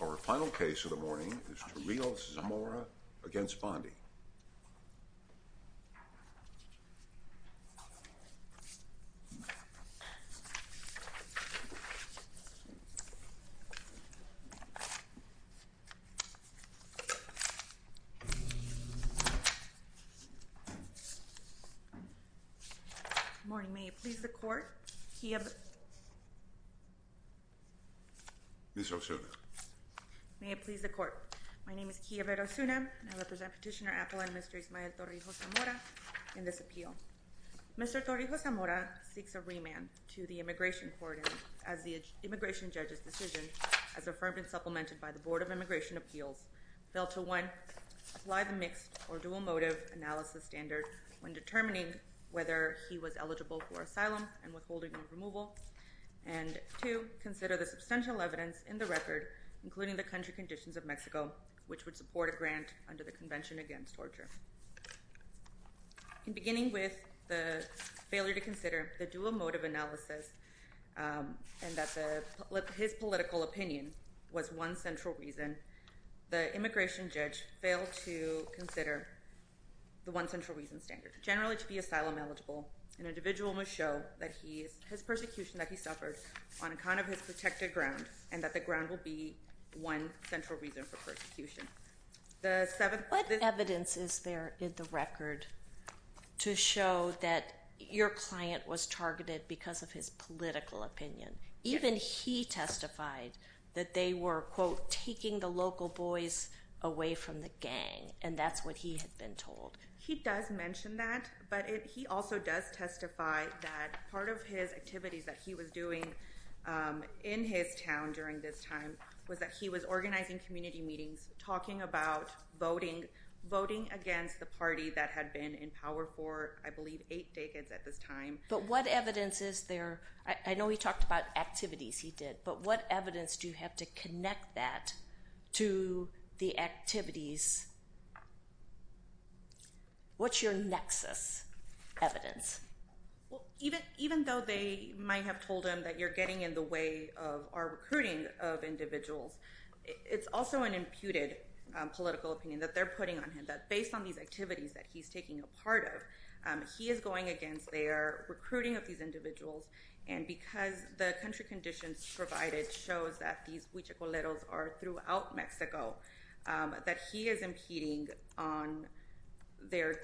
Our final case of the morning is Torrijos-Zamora v. Bondi. Good morning. May it please the court, Kiyab... Ms. Osuna. May it please the court, my name is Kiyab Osuna and I represent Petitioner Apple and Mr. Ismael Torrijos-Zamora in this appeal. Mr. Torrijos-Zamora seeks a remand to the Immigration Court as the immigration judge's decision, as affirmed and supplemented by the Board of Immigration Appeals, fell to one, apply the mixed or dual motive analysis standard when determining whether he was eligible for asylum and withholding or removal, and two, consider the substantial evidence in the record, including the country conditions of Mexico, which would support a grant under the Convention Against Torture. In beginning with the failure to consider the dual motive analysis and that his political opinion was one central reason, the immigration judge failed to consider the one central reason standard. Generally, to be asylum eligible, an individual must show that his persecution that he suffered on account of his protected ground and that the ground will be one central reason for persecution. What evidence is there in the record to show that your client was targeted because of his political opinion? Even he testified that they were, quote, taking the local boys away from the gang, and that's what he had been told. He does mention that, but he also does testify that part of his activities that he was doing in his town during this time was that he was organizing community meetings, talking about voting, voting against the party that had been in power for, I believe, eight decades at this time. But what evidence is there? I know he talked about activities he did, but what evidence do you have to connect that to the activities? What's your nexus evidence? Well, even though they might have told him that you're getting in the way of our recruiting of individuals, it's also an imputed political opinion that they're putting on him, that based on these activities that he's taking a part of, he is going against their recruiting of these individuals. And because the country conditions provided shows that these huichacoleros are throughout Mexico, that he is impeding on their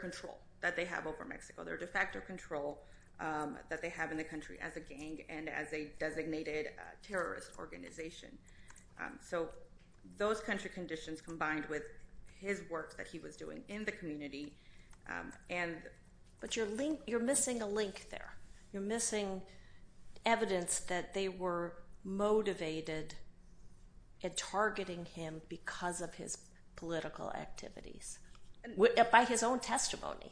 control that they have over Mexico. Their de facto control that they have in the country as a gang and as a designated terrorist organization. So those country conditions combined with his work that he was doing in the community and... But you're missing a link there. You're missing evidence that they were motivated at targeting him because of his political activities, by his own testimony.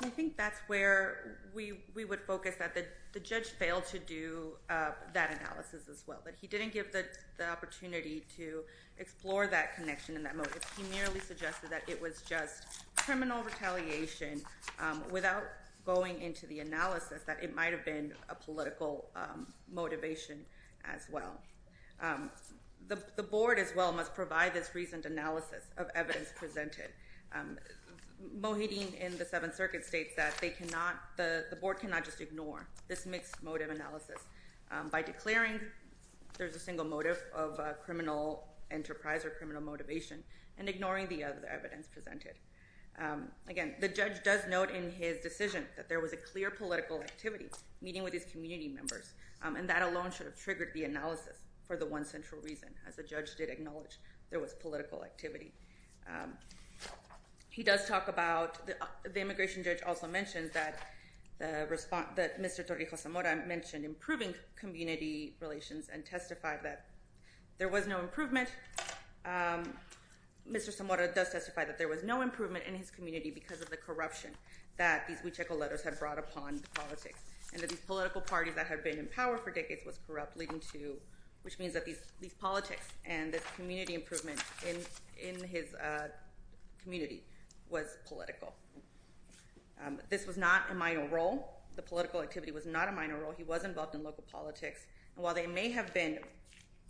I think that's where we would focus that the judge failed to do that analysis as well. That he didn't give the opportunity to explore that connection and that motive. He merely suggested that it was just criminal retaliation without going into the analysis that it might have been a political motivation as well. The board as well must provide this reasoned analysis of evidence presented. Mohideen in the Seventh Circuit states that the board cannot just ignore this mixed motive analysis by declaring there's a single motive of criminal enterprise or criminal motivation and ignoring the evidence presented. Again, the judge does note in his decision that there was a clear political activity meeting with his community members. And that alone should have triggered the analysis for the one central reason, as the judge did there was political activity. He does talk about... The immigration judge also mentions that Mr. Torrijos Zamora mentioned improving community relations and testified that there was no improvement. Mr. Zamora does testify that there was no improvement in his community because of the corruption that these Huichol letters had brought upon the politics. And that these political parties that had been in power for decades was corrupt, leading to... Which means that these politics and this community improvement in his community was political. This was not a minor role. The political activity was not a minor role. He was involved in local politics. And while they may have been...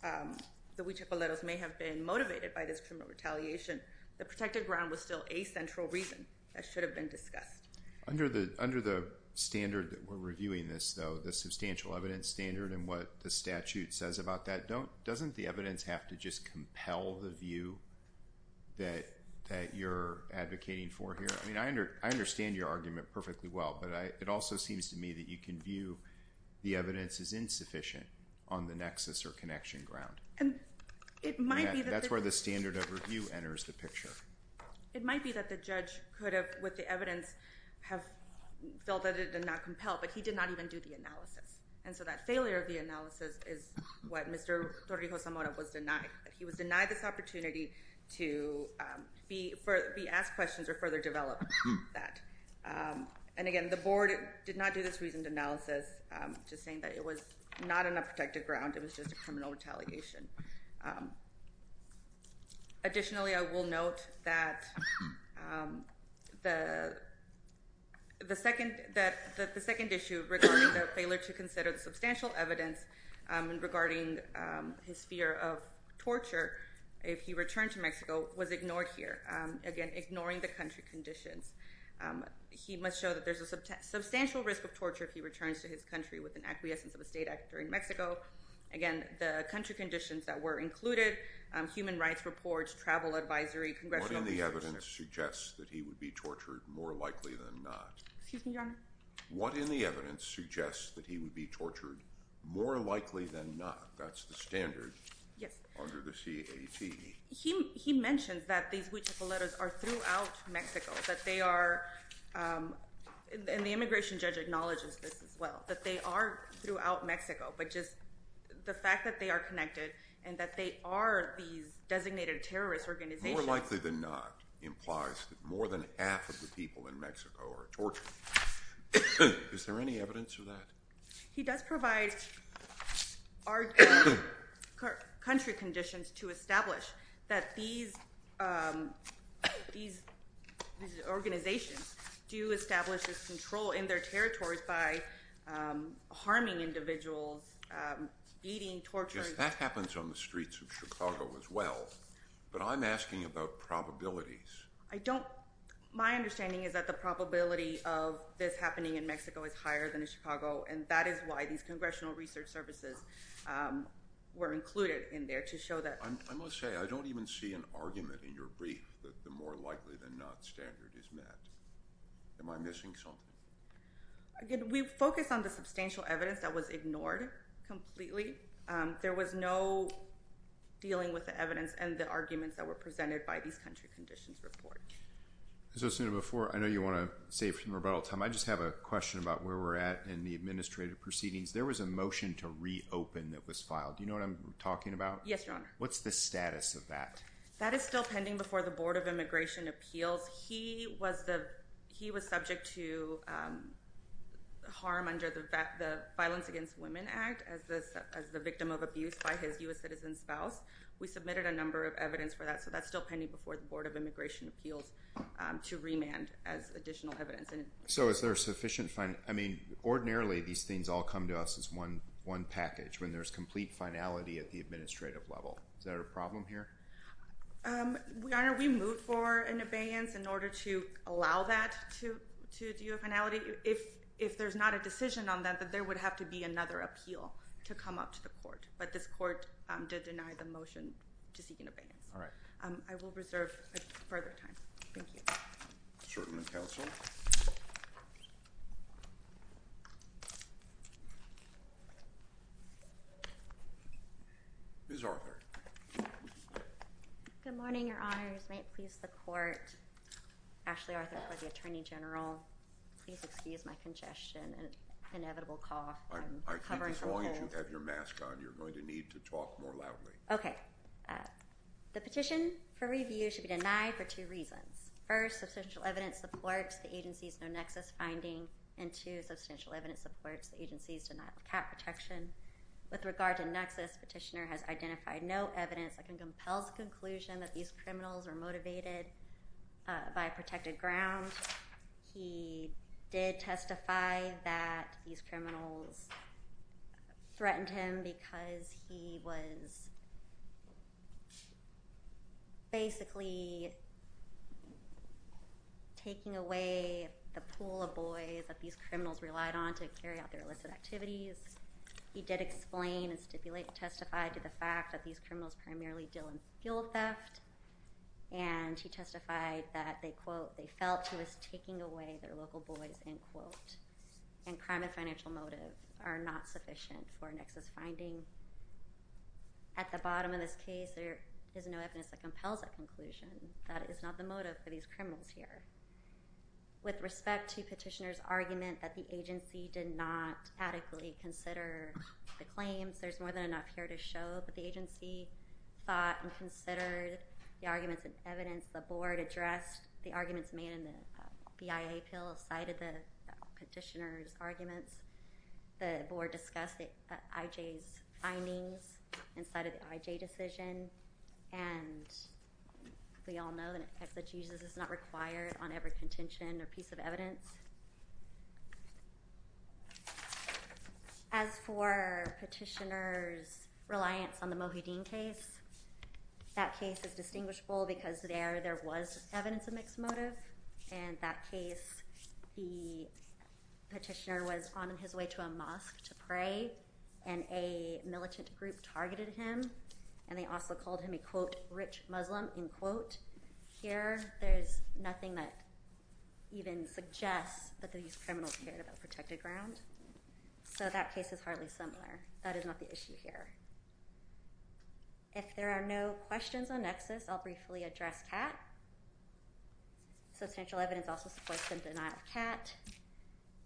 The Huichol letters may have been motivated by this criminal retaliation, the protected ground was still a central reason that should have been discussed. Under the standard that we're reviewing this, though, the substantial evidence standard and what the statute says about that, doesn't the evidence have to just compel the view that you're advocating for here? I mean, I understand your argument perfectly well, but it also seems to me that you can view the evidence as insufficient on the nexus or connection ground. And it might be that... That's where the standard of review enters the picture. It might be that the judge could have, with the evidence, have felt that it did not compel, but he did not even do the analysis. And so that failure of the analysis is what Mr. Torrijos Zamora was denied. He was denied this opportunity to be asked questions or further develop that. And again, the board did not do this reasoned analysis, just saying that it was not on a protected ground. It was just a criminal retaliation. Additionally, I will note that the second issue regarding the failure to consider the substantial evidence regarding his fear of torture if he returned to Mexico was ignored here. Again, ignoring the country conditions. He must show that there's a substantial risk of torture if he returns to his country with an acquiescence of a state act during Mexico. Again, the country conditions that were included, human rights reports, travel advisory, congressional... What in the evidence suggests that he would be tortured more likely than not? Excuse me, Your Honor? What in the evidence suggests that he would be tortured more likely than not? That's the standard. Yes. Under the CAT. He mentions that these huichapoleros are throughout Mexico, that they are... And the immigration judge acknowledges this as well, that they are throughout Mexico, but just the fact that they are connected and that they are these designated terrorist organizations... More likely than not implies that more than half of the people in Mexico are tortured. Is there any evidence of that? He does provide our country conditions to establish that these organizations do establish this control in their territories by harming individuals, beating, torturing... Yes, that happens on the streets of Chicago as well, but I'm asking about probabilities. I don't... My understanding is that the probability of this happening in Mexico is higher than in Chicago, and that is why these congressional research services were included in there, to show that... I must say, I don't even see an argument in your brief that the more likely than not standard is met. Am I missing something? Again, we focus on the substantial evidence that was ignored completely. There was no dealing with the evidence and the arguments that were presented by these country conditions report. As I was saying before, I know you want to save some rebuttal time. I just have a question about where we're at in the administrative proceedings. There was a motion to reopen that was filed. Do you know what I'm talking about? Yes, Your Honor. What's the status of that? That is still pending before the Board of Immigration Appeals. He was the... He was subject to harm under the Violence Against Women Act as the victim of abuse by his U.S. citizen spouse. We submitted a number of evidence for that, so that's still pending before the Board of Immigration Appeals to remand as additional evidence. So is there sufficient... I mean, ordinarily these things all come to us as one package when there's complete finality at the administrative level. Is that a problem here? Your Honor, we moved for an abeyance in order to allow that to do a finality. If there's not a decision on that, then there would have to be another appeal to come up to the court. But this court did deny the motion to seek an abeyance. All right. I will reserve further time. Thank you. Assertion of counsel. Ms. Arthur. Good morning, Your Honors. May it please the court. Ashley Arthur for the Attorney General. Please excuse my congestion and inevitable cough. I'm covering for a cold. As long as you have your mask on, you're going to need to talk more loudly. Okay. The petition for review should be denied for two reasons. First, substantial evidence supports the agency's no-nexus finding. And two, substantial evidence supports the agency's denial of cap protection. With regard to nexus, petitioner has identified no evidence that can compel his conclusion that these criminals are motivated by protected ground. He did testify that these criminals threatened him because he was basically taking away the pool of boys that these criminals relied on to carry out their illicit activities. He did explain and testify to the fact that these criminals primarily deal in fuel theft. And he testified that they, quote, they felt he was taking away their local boys, end quote. And crime and financial motive are not sufficient for a nexus finding. At the bottom of this case, there is no evidence that compels that conclusion. That is not the motive for these criminals here. With respect to petitioner's argument that the agency did not adequately consider the claims, there's more than enough here to show that the agency thought and considered the arguments and evidence. The board addressed the arguments made in the BIA appeal, cited the petitioner's arguments. The board discussed the IJ's findings and cited the IJ decision. And we all know that Jesus is not required on every contention or piece of evidence. As for petitioner's reliance on the Mohideen case, that case is distinguishable because there was evidence of mixed motive. In that case, the petitioner was on his way to a mosque to pray, and a militant group targeted him. And they also called him a, quote, rich Muslim, end quote. Here, there's nothing that even suggests that these criminals cared about protected ground. So that case is hardly similar. That is not the issue here. If there are no questions on nexus, I'll briefly address CAT. Substantial evidence also supports the denial of CAT.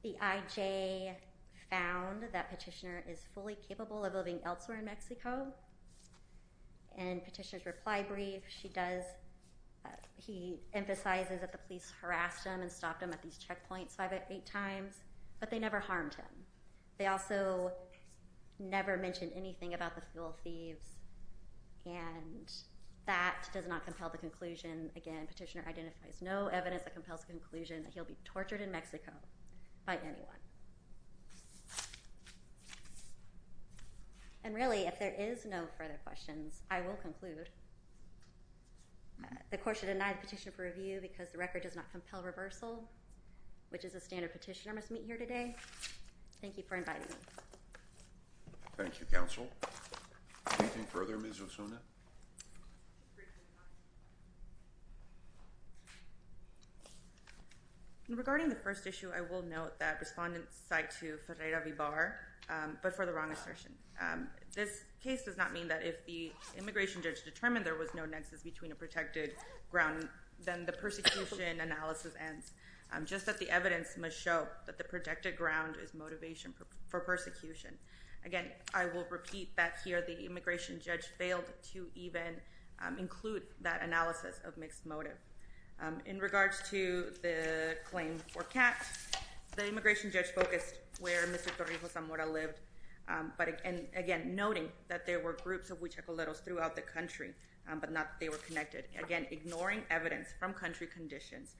The IJ found that petitioner is fully capable of living elsewhere in Mexico. And petitioner's reply brief, he emphasizes that the police harassed him and stopped him at these checkpoints five or eight times. But they never harmed him. They also never mentioned anything about the fuel thieves. And that does not compel the conclusion. Again, petitioner identifies no evidence that compels the conclusion that he'll be tortured in Mexico by anyone. And really, if there is no further questions, I will conclude. The court should deny the petition for review because the record does not compel reversal, which is a standard petitioner must meet here today. Thank you for inviting me. Thank you, counsel. Anything further, Ms. Osuna? Regarding the first issue, I will note that respondents cite to Ferreira Vibar, but for the wrong assertion. This case does not mean that if the immigration judge determined there was no nexus between a protected ground, then the persecution analysis ends. Just that the evidence must show that the protected ground is motivation for persecution. Again, I will repeat that here. The immigration judge failed to even include that analysis of mixed motive. In regards to the claim for Katz, the immigration judge focused where Mr. Torrijos Zamora lived. But again, noting that there were groups of huichacoleros throughout the country, but not that they were connected. Again, ignoring evidence from country conditions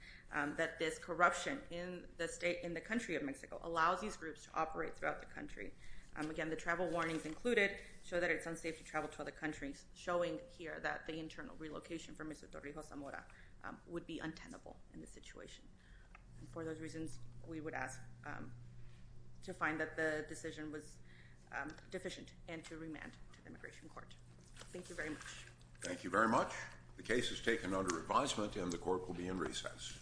that this corruption in the country of Mexico allows these groups to operate throughout the country. Again, the travel warnings included show that it's unsafe to travel to other countries, showing here that the internal relocation for Mr. Torrijos Zamora would be untenable in this situation. For those reasons, we would ask to find that the decision was deficient and to remand to the immigration court. Thank you very much. Thank you very much. The case is taken under advisement and the court will be in recess.